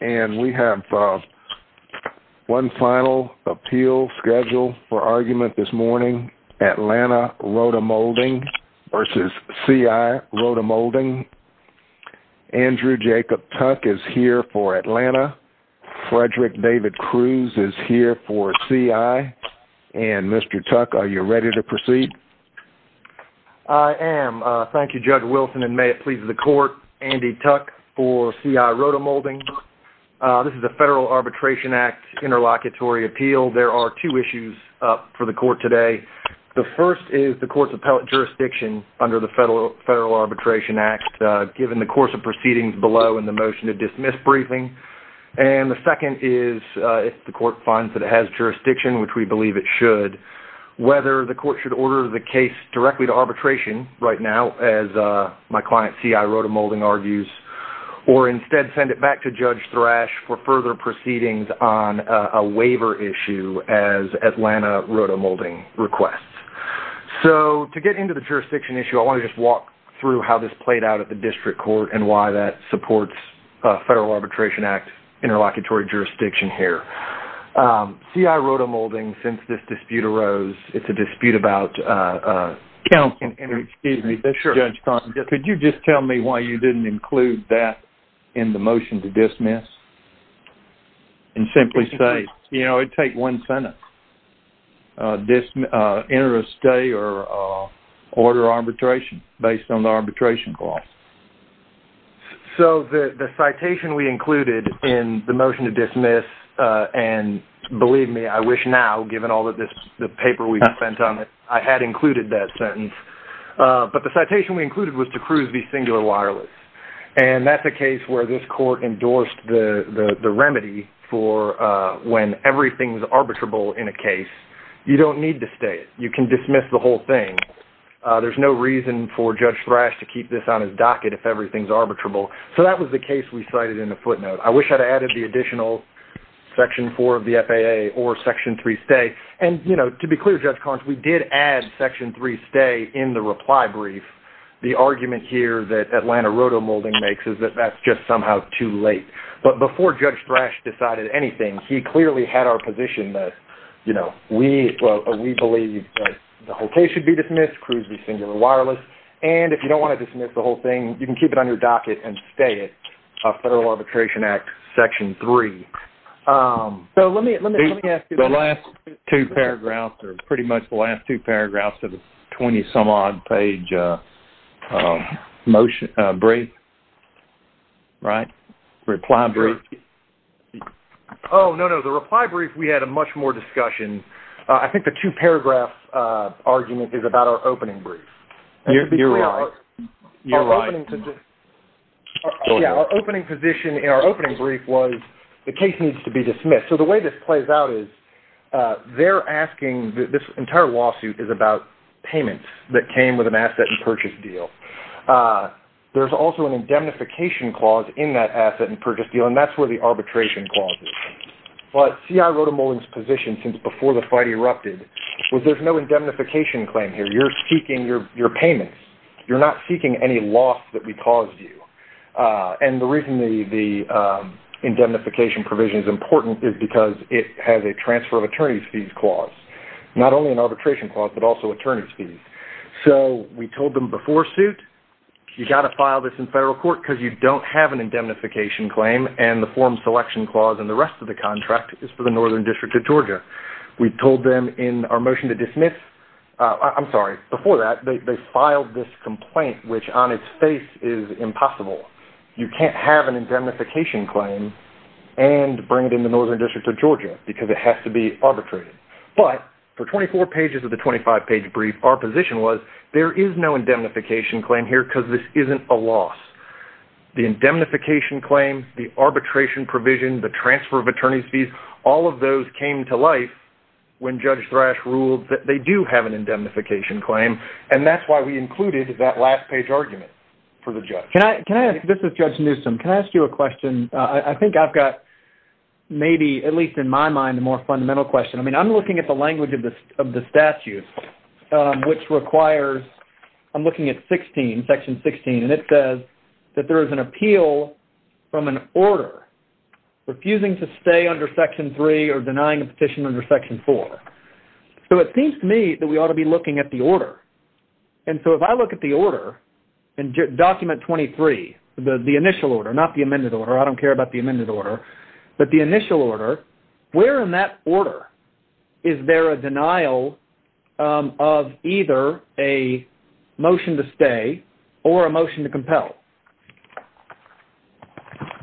And we have one final appeal schedule for argument this morning. Atlanta Rotomolding v. CI Rotomolding. Andrew Jacob Tuck is here for Atlanta. Frederick David Cruz is here for CI. And Mr. Tuck, are you ready to proceed? I am. Thank you, Judge Wilson, and may it please the court. Andy Tuck for CI Rotomolding. This is a Federal Arbitration Act interlocutory appeal. There are two issues up for the court today. The first is the court's appellate jurisdiction under the Federal Arbitration Act, given the course of proceedings below and the motion to dismiss briefing. And the second is if the court finds that it has jurisdiction, which we believe it should, whether the court should order the case directly to arbitration right now, as my client CI Rotomolding argues, or instead send it back to Judge Thrash for further proceedings on a waiver issue as Atlanta Rotomolding requests. So to get into the jurisdiction issue, I want to just walk through how this played out at the district court and why that supports Federal Arbitration Act interlocutory jurisdiction here. CI Rotomolding, since this dispute arose, it's a dispute about... Counselor, excuse me, this is Judge Thompson. Could you just tell me why you didn't include that in the motion to dismiss? And simply say, you know, it'd take one sentence. Enter a stay or order arbitration based on the arbitration clause. So the citation we included in the motion to dismiss, and believe me, I wish now, given all the paper we've spent on it, I had included that sentence. But the citation we included was to cruise the singular wireless. And that's a case where this court endorsed the remedy for when everything's arbitrable in a case, you don't need to stay it. You can dismiss the whole thing. There's no reason for Judge Thrash to keep this on his docket if everything's arbitrable. So that was the case we cited in the footnote. I wish I'd added the additional Section 4 of the FAA or Section 3 stay. And, you know, to be clear, Judge Collins, we did add Section 3 stay in the reply brief. The argument here that Atlanta Rotomolding makes is that that's just somehow too late. But before Judge Thrash decided anything, he clearly had our position that, you know, we believe that the whole case should be dismissed, cruise the singular wireless, and if you don't want to dismiss the whole thing, you can keep it on your docket and stay it, a Federal Arbitration Act Section 3. So let me ask you... The last two paragraphs are pretty much the last two paragraphs of the 20-some-odd page motion, brief, right? Reply brief. Oh, no, no, the reply brief, we had a much more discussion. I think the two-paragraph argument is about our opening brief. You're right. You're right. Yeah, our opening position in our opening brief was the case needs to be dismissed. So the way this plays out is they're asking... This entire lawsuit is about payments that came with an asset and purchase deal. There's also an indemnification clause in that asset and purchase deal, and that's where the arbitration clause is. But C.I. Rotomolding's position since before the fight erupted was there's no indemnification claim here. You're seeking your payments. You're not seeking any loss that we caused you. And the reason the indemnification provision is important is because it has a transfer of attorneys' fees clause, not only an arbitration clause, but also attorneys' fees. So we told them before suit, you've got to file this in federal court because you don't have an indemnification claim, and the form selection clause in the rest of the contract is for the Northern District of Georgia. We told them in our motion to dismiss... I'm sorry, before that, they filed this complaint, which on its face is impossible. You can't have an indemnification claim and bring it in the Northern District of Georgia because it has to be arbitrated. But for 24 pages of the 25-page brief, our position was there is no indemnification claim here because this isn't a loss. The indemnification claim, the arbitration provision, the transfer of attorneys' fees, all of those came to life when Judge Thrash ruled that they do have an indemnification claim, and that's why we included that last-page argument for the judge. This is Judge Newsom. Can I ask you a question? I think I've got maybe, at least in my mind, a more fundamental question. I'm looking at the language of the statute, which requires... I'm looking at section 16, and it says that there is an appeal from an order refusing to stay under section 3 or denying a petition under section 4. So it seems to me that we ought to be looking at the order. And so if I look at the order in Document 23, the initial order, not the amended order, I don't care about the amended order, but the initial order, where in that order is there a denial of either a motion to stay or a motion to compel?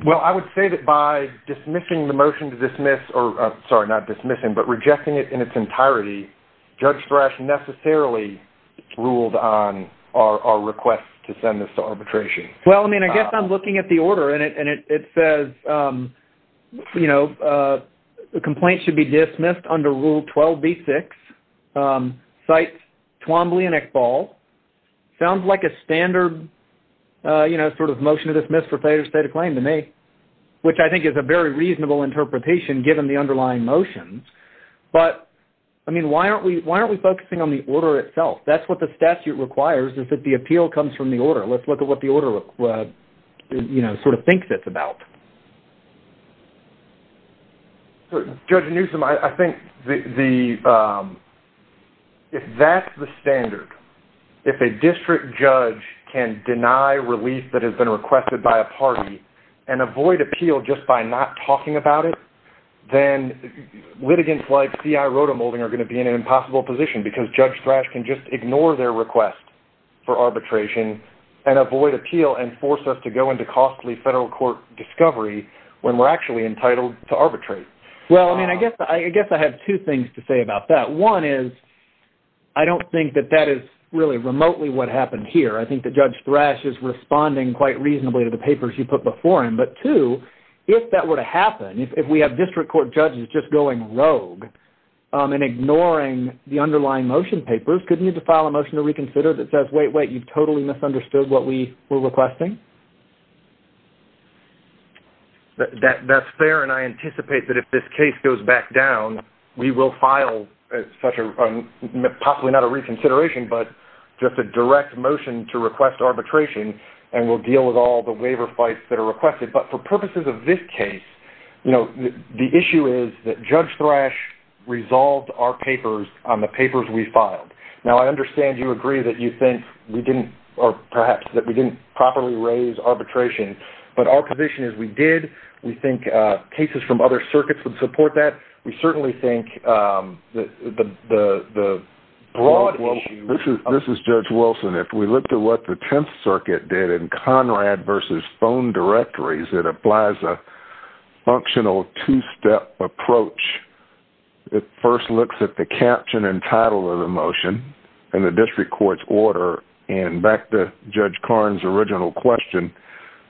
Well, I would say that by dismissing the motion to dismiss, or sorry, not dismissing, but rejecting it in its entirety, Judge Thrash necessarily ruled on our request to send this to arbitration. Well, I mean, I guess I'm looking at the order, and it says, you know, a complaint should be dismissed under Rule 12b-6. Cites Twombly and Ekbal. Sounds like a standard, you know, sort of motion to dismiss for failure to state a claim to me, which I think is a very reasonable interpretation given the underlying motions. But, I mean, why aren't we focusing on the order itself? That's what the statute requires, is that the appeal comes from the order. Let's look at what the order, you know, sort of thinks it's about. Judge Newsom, I think if that's the standard, if a district judge can deny relief that has been requested by a party and avoid appeal just by not talking about it, then litigants like C.I. Rotemolding are going to be in an impossible position because Judge Thrash can just ignore their request for arbitration and avoid appeal and force us to go into costly federal court discovery when we're actually entitled to arbitrate. Well, I mean, I guess I have two things to say about that. One is I don't think that that is really remotely what happened here. I think that Judge Thrash is responding quite reasonably to the papers you put before him. But, two, if that were to happen, if we have district court judges just going rogue and ignoring the underlying motion papers, couldn't you just file a motion to reconsider that says, wait, wait, you've totally misunderstood what we were requesting? That's fair, and I anticipate that if this case goes back down, we will file such a, possibly not a reconsideration, but just a direct motion to request arbitration and we'll deal with all the waiver fights that are requested. But for purposes of this case, the issue is that Judge Thrash resolved our papers on the papers we filed. Now, I understand you agree that you think we didn't, or perhaps that we didn't properly raise arbitration, but our position is we did. We think cases from other circuits would support that. We certainly think the broad issue... This is Judge Wilson. If we looked at what the Tenth Circuit did in Conrad versus phone directories, it applies a functional two-step approach. It first looks at the caption and title of the motion and the district court's order, and back to Judge Karn's original question,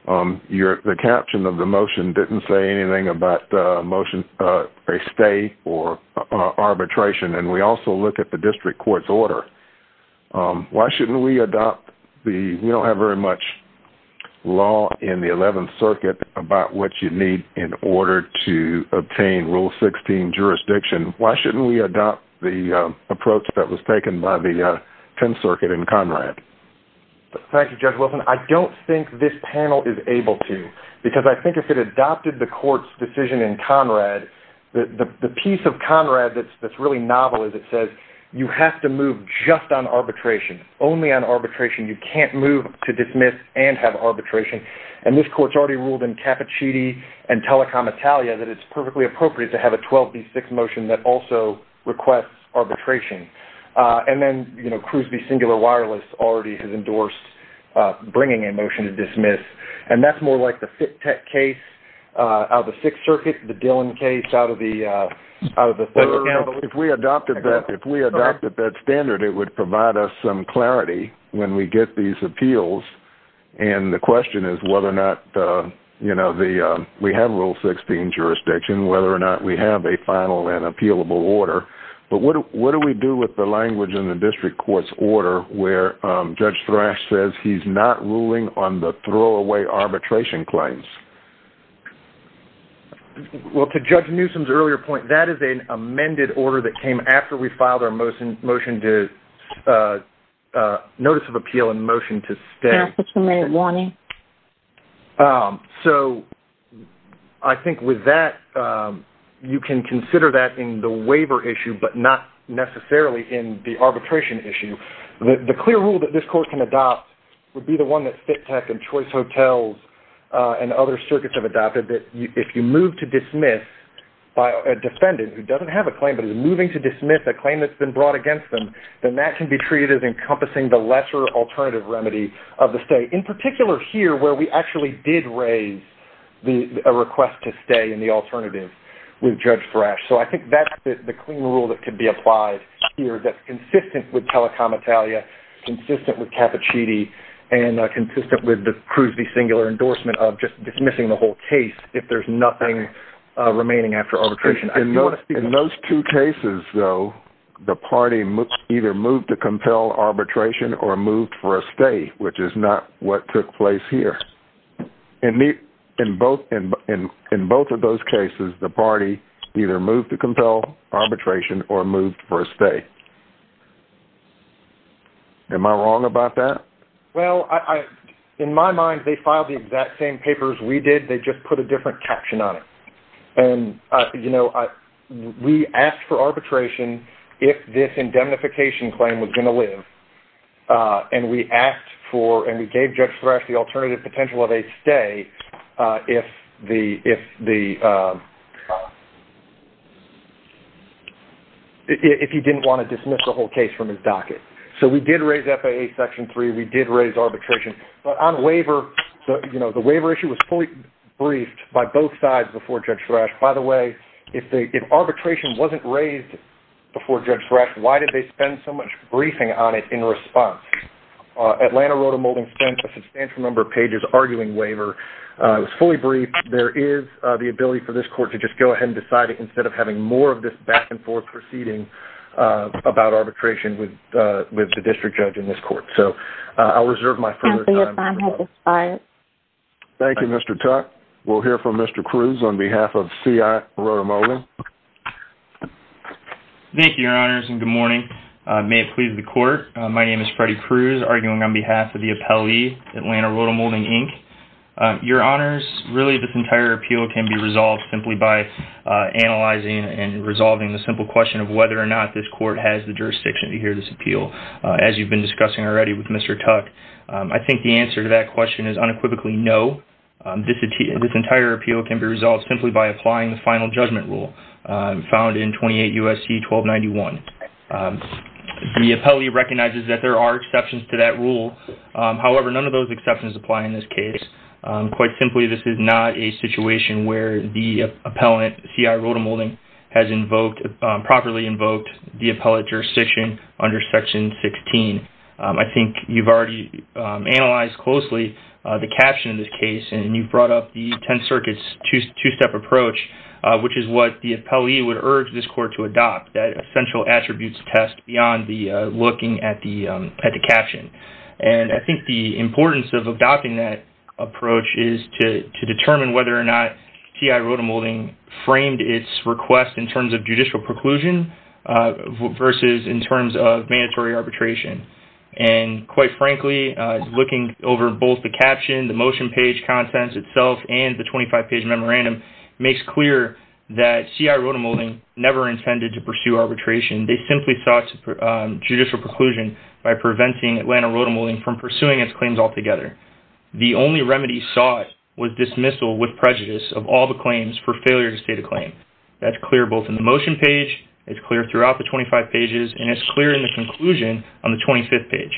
the caption of the motion didn't say anything about a stay or arbitration, and we also look at the district court's order. Why shouldn't we adopt the... about what you need in order to obtain Rule 16 jurisdiction? Why shouldn't we adopt the approach that was taken by the Tenth Circuit in Conrad? Thank you, Judge Wilson. I don't think this panel is able to, because I think if it adopted the court's decision in Conrad, the piece of Conrad that's really novel is it says, you have to move just on arbitration, only on arbitration. You can't move to dismiss and have arbitration. And this court's already ruled in Cappuccini and Telecom Italia that it's perfectly appropriate to have a 12B6 motion that also requests arbitration. And then, you know, Crosby Singular Wireless already has endorsed bringing a motion to dismiss, and that's more like the Fittek case out of the Sixth Circuit, the Dillon case out of the Third. If we adopted that standard, it would provide us some clarity when we get these appeals, and the question is whether or not, you know, we have Rule 16 jurisdiction, whether or not we have a final and appealable order. But what do we do with the language in the district court's order where Judge Thrash says he's not ruling on the throwaway arbitration claims? Well, to Judge Newsom's earlier point, that is an amended order that came after we filed our motion to notice of appeal and motion to stay. Can I ask for a two-minute warning? So, I think with that, you can consider that in the waiver issue but not necessarily in the arbitration issue. The clear rule that this court can adopt would be the one that Fittek and Choice Hotels and other circuits have adopted, that if you move to dismiss by a defendant who doesn't have a claim but is moving to dismiss a claim that's been brought against them, then that can be treated as encompassing the lesser alternative remedy of the stay, in particular here where we actually did raise a request to stay in the alternative with Judge Thrash. So, I think that's the clean rule that could be applied here that's consistent with telecomitalia, consistent with cappuccini, and consistent with the Cruz v. Singular endorsement of just dismissing the whole case if there's nothing remaining after arbitration. In those two cases, though, the party either moved to compel arbitration or moved for a stay, which is not what took place here. In both of those cases, the party either moved to compel arbitration or moved for a stay. Am I wrong about that? Well, in my mind, they filed the exact same papers we did, they just put a different caption on it. And, you know, we asked for arbitration if this indemnification claim was going to live, and we asked for, and we gave Judge Thrash the alternative potential of a stay if the... if he didn't want to dismiss the whole case from his docket. So, we did raise FAA Section 3, we did raise arbitration. But on waiver, you know, the waiver issue was fully briefed by both sides before Judge Thrash. By the way, if arbitration wasn't raised before Judge Thrash, why did they spend so much briefing on it in response? Atlanta wrote a molding statement with a substantial number of pages arguing waiver. It was fully briefed. There is the ability for this court to just go ahead and decide it instead of having more of this back-and-forth proceeding about arbitration with the district judge in this court. So, I'll reserve my further time. Thank you, Mr. Tuck. We'll hear from Mr. Cruz on behalf of C.I. Rotemolding. Thank you, Your Honors, and good morning. May it please the Court. My name is Freddie Cruz, arguing on behalf of the appellee, Atlanta Rotemolding, Inc. Your Honors, really, this entire appeal can be resolved simply by analyzing and resolving the simple question of whether or not this court has the jurisdiction to hear this appeal, as you've been discussing already with Mr. Tuck. I think the answer to that question is unequivocally no. This entire appeal can be resolved simply by applying the Final Judgment Rule found in 28 U.S.C. 1291. The appellee recognizes that there are exceptions to that rule. However, none of those exceptions apply in this case. Quite simply, this is not a situation where the appellant, C.I. Rotemolding, has properly invoked the appellate jurisdiction under Section 16. I think you've already analyzed closely the caption of this case, and you've brought up the Tenth Circuit's two-step approach, which is what the appellee would urge this court to adopt, that essential attributes test beyond looking at the caption. And I think the importance of adopting that approach is to determine whether or not C.I. Rotemolding framed its request in terms of judicial preclusion versus in terms of mandatory arbitration. And quite frankly, looking over both the caption, the motion page contents itself, and the 25-page memorandum, makes clear that C.I. Rotemolding never intended to pursue arbitration. They simply sought judicial preclusion by preventing Atlanta Rotemolding from pursuing its claims altogether. The only remedy sought was dismissal with prejudice of all the claims for failure to state a claim. That's clear both in the motion page, it's clear throughout the 25 pages, and it's clear in the conclusion on the 25th page.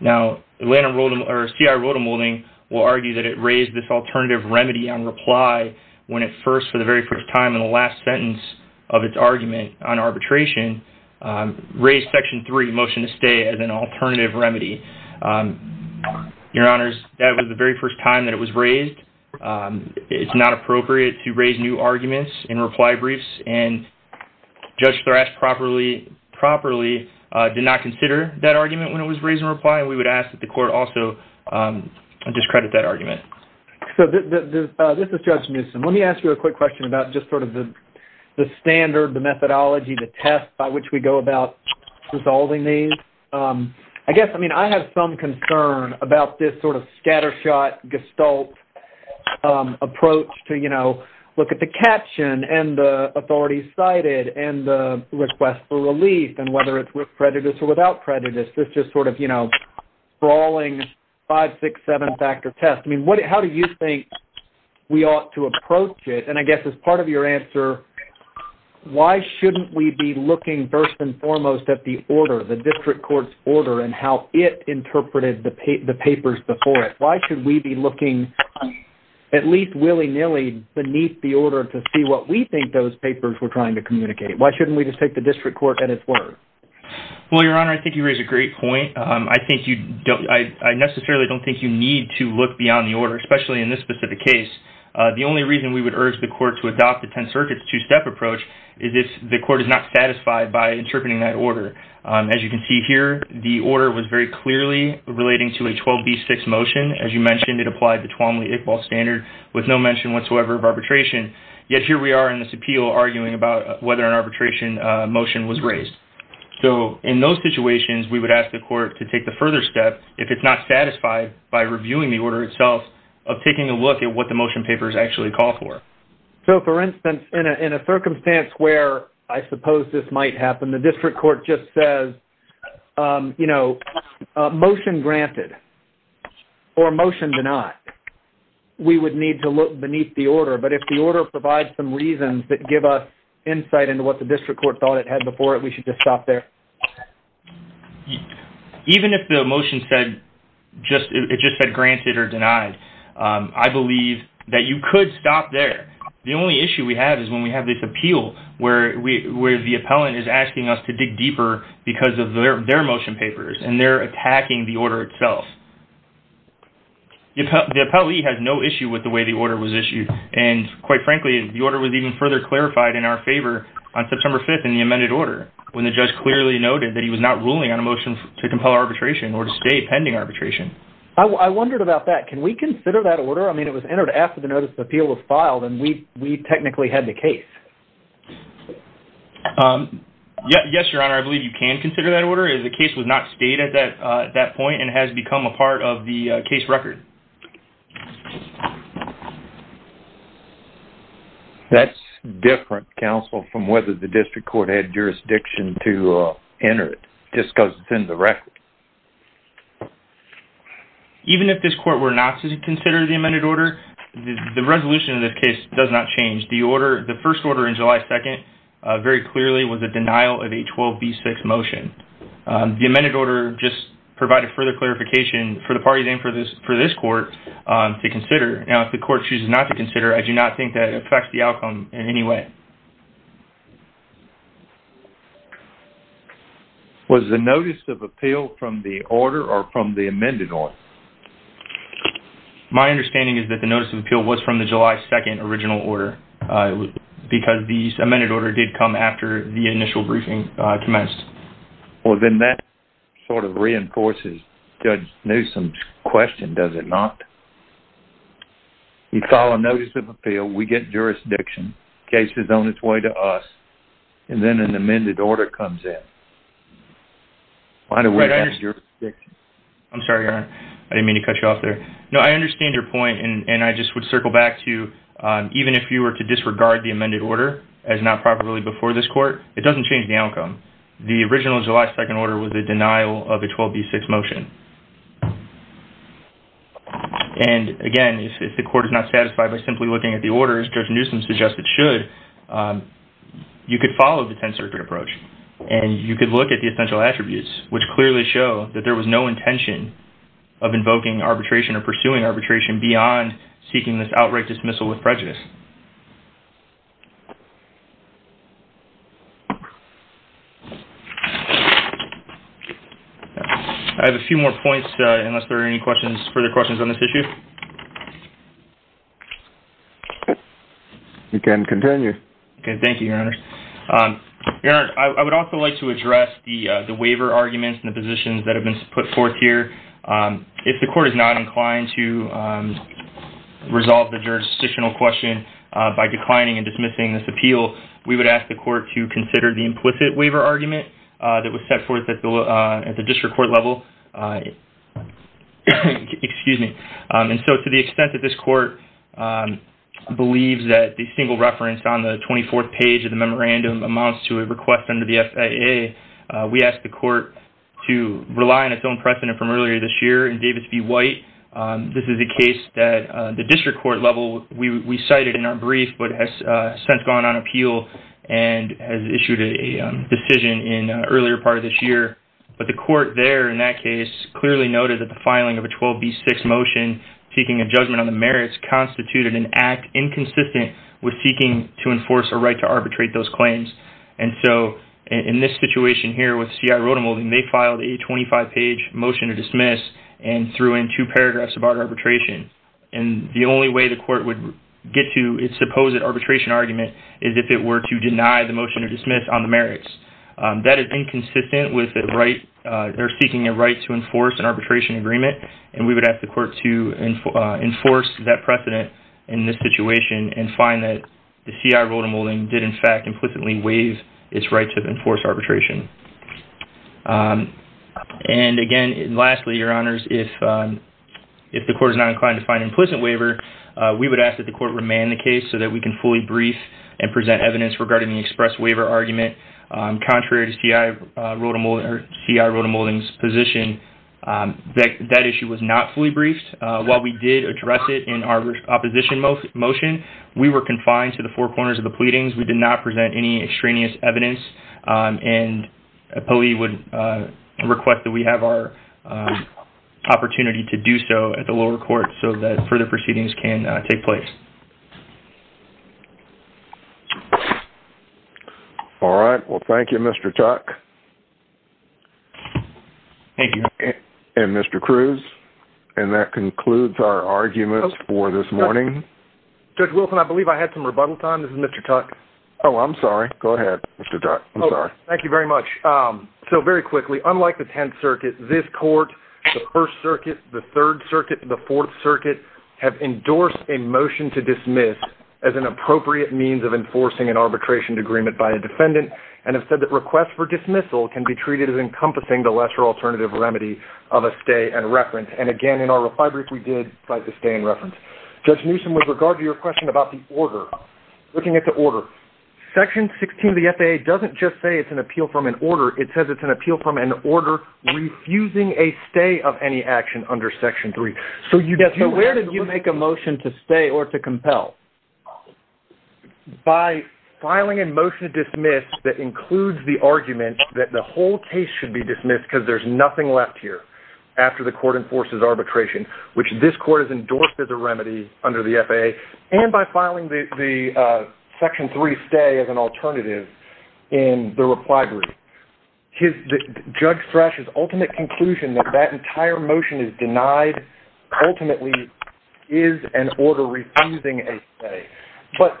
Now, C.I. Rotemolding will argue that it raised this alternative remedy on reply when it first, for the very first time, in the last sentence of its argument on arbitration, raised Section 3, Motion to Stay, as an alternative remedy. Your Honors, that was the very first time that it was raised. It's not appropriate to raise new arguments in reply briefs, and Judge Thrash properly did not consider that argument when it was raised in reply, and we would ask that the Court also discredit that argument. So, this is Judge Newsom. Let me ask you a quick question about just sort of the standard, the methodology, the test by which we go about resolving these. I guess, I mean, I have some concern about this sort of scattershot gestalt approach to, you know, look at the caption, and the authority cited, and the request for relief, and whether it's with prejudice or without prejudice. It's just sort of, you know, sprawling, five, six, seven-factor test. I mean, how do you think we ought to approach it? And I guess, as part of your answer, why shouldn't we be looking first and foremost at the order, the District Court's order, and how it interpreted the papers before it? Why should we be looking at least willy-nilly beneath the order to see what we think those papers were trying to communicate? Why shouldn't we just take the District Court at its word? Well, Your Honor, I think you raise a great point. I think you don't... I necessarily don't think you need to look beyond the order, especially in this specific case. The only reason we would urge the Court to adopt the 10-circuits, two-step approach is if the Court is not satisfied by interpreting that order. As you can see here, the order was very clearly relating to a 12b6 motion, as you mentioned, it applied the Twombly-Iqbal standard with no mention whatsoever of arbitration. Yet here we are in this appeal arguing about whether an arbitration motion was raised. So, in those situations, we would ask the Court to take the further step if it's not satisfied by reviewing the order itself of taking a look at what the motion papers actually call for. So, for instance, in a circumstance where I suppose this might happen, the District Court just says, you know, motion granted or motion denied, we would need to look beneath the order. But if the order provides some reasons that give us insight into what the District Court thought it had before it, we should just stop there? Even if the motion said just... it just said granted or denied, I believe that you could stop there. The only issue we have is when we have this appeal where the appellant is asking us to dig deeper because of their motion papers and they're attacking the order itself. The appellee has no issue with the way the order was issued. And quite frankly, the order was even further clarified in our favor on September 5th in the amended order when the judge clearly noted that he was not ruling on a motion to compel arbitration or to stay pending arbitration. I wondered about that. Can we consider that order? I mean, it was entered after the notice of appeal was filed and we technically had the case. Yes, Your Honor, I believe you can consider that order. The case was not stayed at that point and has become a part of the case record. That's different, counsel, from whether the District Court had jurisdiction to enter it just because it's in the record. Even if this court were not to consider the amended order, the resolution of the case does not change. The first order in July 2nd very clearly was a denial of a 12B6 motion. The amended order just provided further clarification for the parties and for this court to consider. Now, if the court chooses not to consider, I do not think that affects the outcome in any way. Was the notice of appeal from the order or from the amended order? My understanding is that the notice of appeal was from the July 2nd original order because the amended order did come after the initial briefing commenced. Well, then that sort of reinforces Judge Newsom's question, does it not? You file a notice of appeal, we get jurisdiction, the case is on its way to us, and then an amended order comes in. Why do we have jurisdiction? I'm sorry, Your Honor, I didn't mean to cut you off there. No, I understand your point and I just would circle back to even if you were to disregard the amended order as not properly before this court, it doesn't change the outcome. The original July 2nd order was a denial of a 12B6 motion. Again, if the court is not satisfied by simply looking at the orders, Judge Newsom suggests it should, you could follow the Tenth Circuit approach and you could look at the essential attributes which clearly show that there was no intention of invoking arbitration or pursuing arbitration beyond seeking this outright dismissal with prejudice. I have a few more points unless there are any further questions on this issue. You can continue. Okay, thank you, Your Honor. Your Honor, I would also like to address the waiver arguments and the positions that have been put forth here. If the court is not inclined to resolve the jurisdictional question by declining and dismissing this appeal, we would ask the court to consider the implicit waiver argument that was set forth at the district court level. To the extent that this court believes that the single reference on the 24th page of the memorandum amounts to a request under the FAA, we ask the court to rely on its own precedent from earlier this year in Davis v. White. This is a case that the district court level, we cited in our brief, but has since gone on appeal and has issued a decision in an earlier part of this year. But the court there in that case clearly noted that the filing of a 12b6 motion seeking a judgment on the merits constituted an act inconsistent with seeking to enforce a right to arbitrate those claims. In this situation here with C.I. Rotemulding, they filed a 25-page motion to dismiss and threw in two paragraphs about arbitration. The only way the court would get to its supposed arbitration argument is if it were to deny the motion to dismiss on the merits. That is inconsistent with their seeking a right to enforce an arbitration agreement. We would ask the court to enforce that precedent in this situation and find that C.I. Rotemulding did in fact implicitly waive its right to enforce arbitration. And again, lastly, Your Honors, if the court is not inclined to find an implicit waiver, we would ask that the court remand the case so that we can fully brief and present evidence regarding the express waiver argument. Contrary to C.I. Rotemulding's position, that issue was not fully briefed. While we did address it in our opposition motion, we were confined to the four corners of the pleadings. We did not present any extraneous evidence. And an employee would request that we have our opportunity to do so at the lower court so that further proceedings can take place. All right. Well, thank you, Mr. Tuck. Thank you. And Mr. Cruz. And that concludes our arguments for this morning. Judge Wilson, I believe I had some rebuttal time. This is Mr. Tuck. Oh, I'm sorry. Go ahead, Mr. Tuck. I'm sorry. Thank you very much. So very quickly, unlike the Tenth Circuit, this court, the First Circuit, the Third Circuit, the Fourth Circuit have endorsed a motion to dismiss as an appropriate means of enforcing an arbitration agreement by a defendant and have said that requests for dismissal can be treated as encompassing the lesser alternative remedy of a stay and reference. And again, in our reply brief, we did cite the stay and reference. Judge Newsom, with regard to your question about the order, looking at the order, Section 16 of the FAA doesn't just say it's an appeal from an order. It says it's an appeal from an order refusing a stay of any action under Section 3. Yes, but where did you make a motion to stay or to compel? By filing a motion to dismiss that includes the argument that the whole case should be dismissed because there's nothing left here after the court enforces arbitration, which this court has endorsed as a remedy under the FAA, and by filing the Section 3 stay as an alternative in the reply brief. Judge Thrash's ultimate conclusion that that entire motion is denied ultimately is an order refusing a stay. But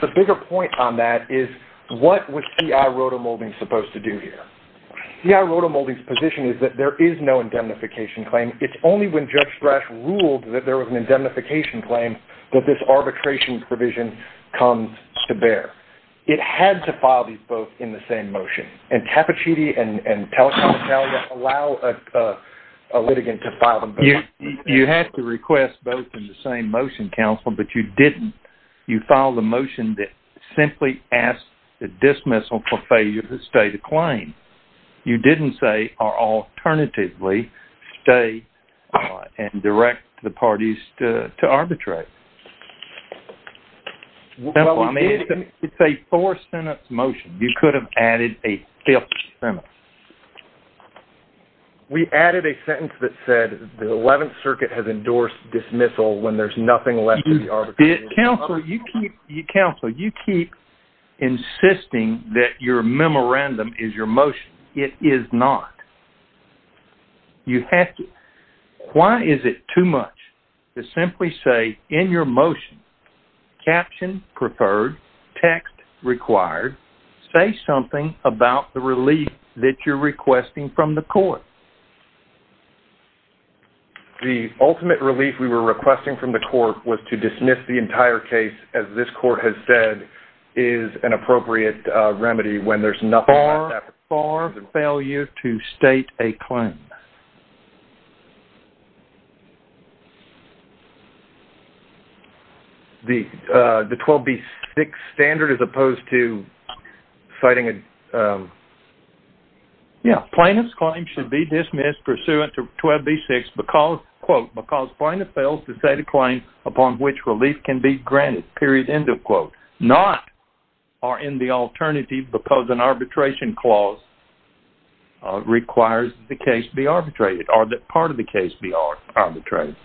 the bigger point on that is what was C.I. Rotemulding supposed to do here? C.I. Rotemulding's position is that there is no indemnification claim. It's only when Judge Thrash ruled that there was an indemnification claim that this arbitration provision comes to bear. It had to file these both in the same motion, and Cappuccini and Telecom Italia allow a litigant to file them both. You had to request both in the same motion, counsel, but you didn't. You filed a motion that simply asked the dismissal for failure to stay the claim. You didn't say, or alternatively, stay and direct the parties to arbitrate. It's a four-sentence motion. You could have added a fifth sentence. We added a sentence that said the Eleventh Circuit has endorsed dismissal when there's nothing left to be arbitrated. Counsel, you keep insisting that your memorandum is your motion. It is not. Why is it too much to simply say in your motion, caption preferred, text required, say something about the relief that you're requesting from the court? The ultimate relief we were requesting from the court was to dismiss the entire case, as this court has said is an appropriate remedy when there's nothing left. For failure to state a claim. The 12B6 standard as opposed to citing a... Plaintiff's claim should be dismissed pursuant to 12B6 because, quote, because plaintiff fails to state a claim upon which relief can be granted, period, end of quote. Not are in the alternative because an arbitration clause requires the case be arbitrated or that part of the case be arbitrated.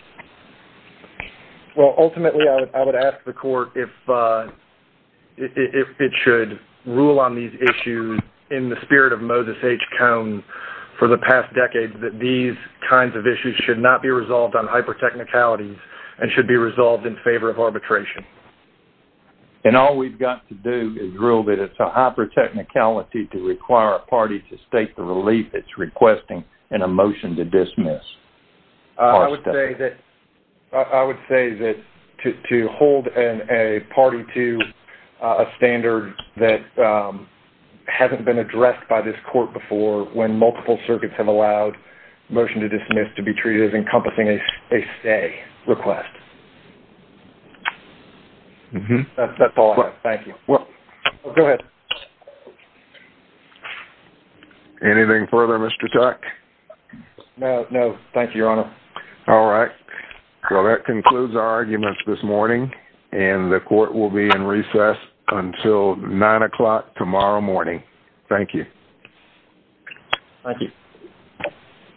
Well, ultimately, I would ask the court if it should rule on these issues in the spirit of Moses H. Cone for the past decades that these kinds of issues should not be resolved on hypertechnicalities and should be resolved in favor of arbitration. And all we've got to do is rule that it's a hypertechnicality to require a party to state the relief it's requesting in a motion to dismiss. I would say that to hold a party to a standard that hasn't been addressed by this court before when multiple circuits have allowed motion to dismiss to be treated as encompassing a stay request. That's all I have. Thank you. Go ahead. Anything further, Mr. Tuck? No, no. Thank you, Your Honor. All right. Well, that concludes our arguments this morning and the court will be in recess until 9 o'clock tomorrow morning. Thank you. Thank you.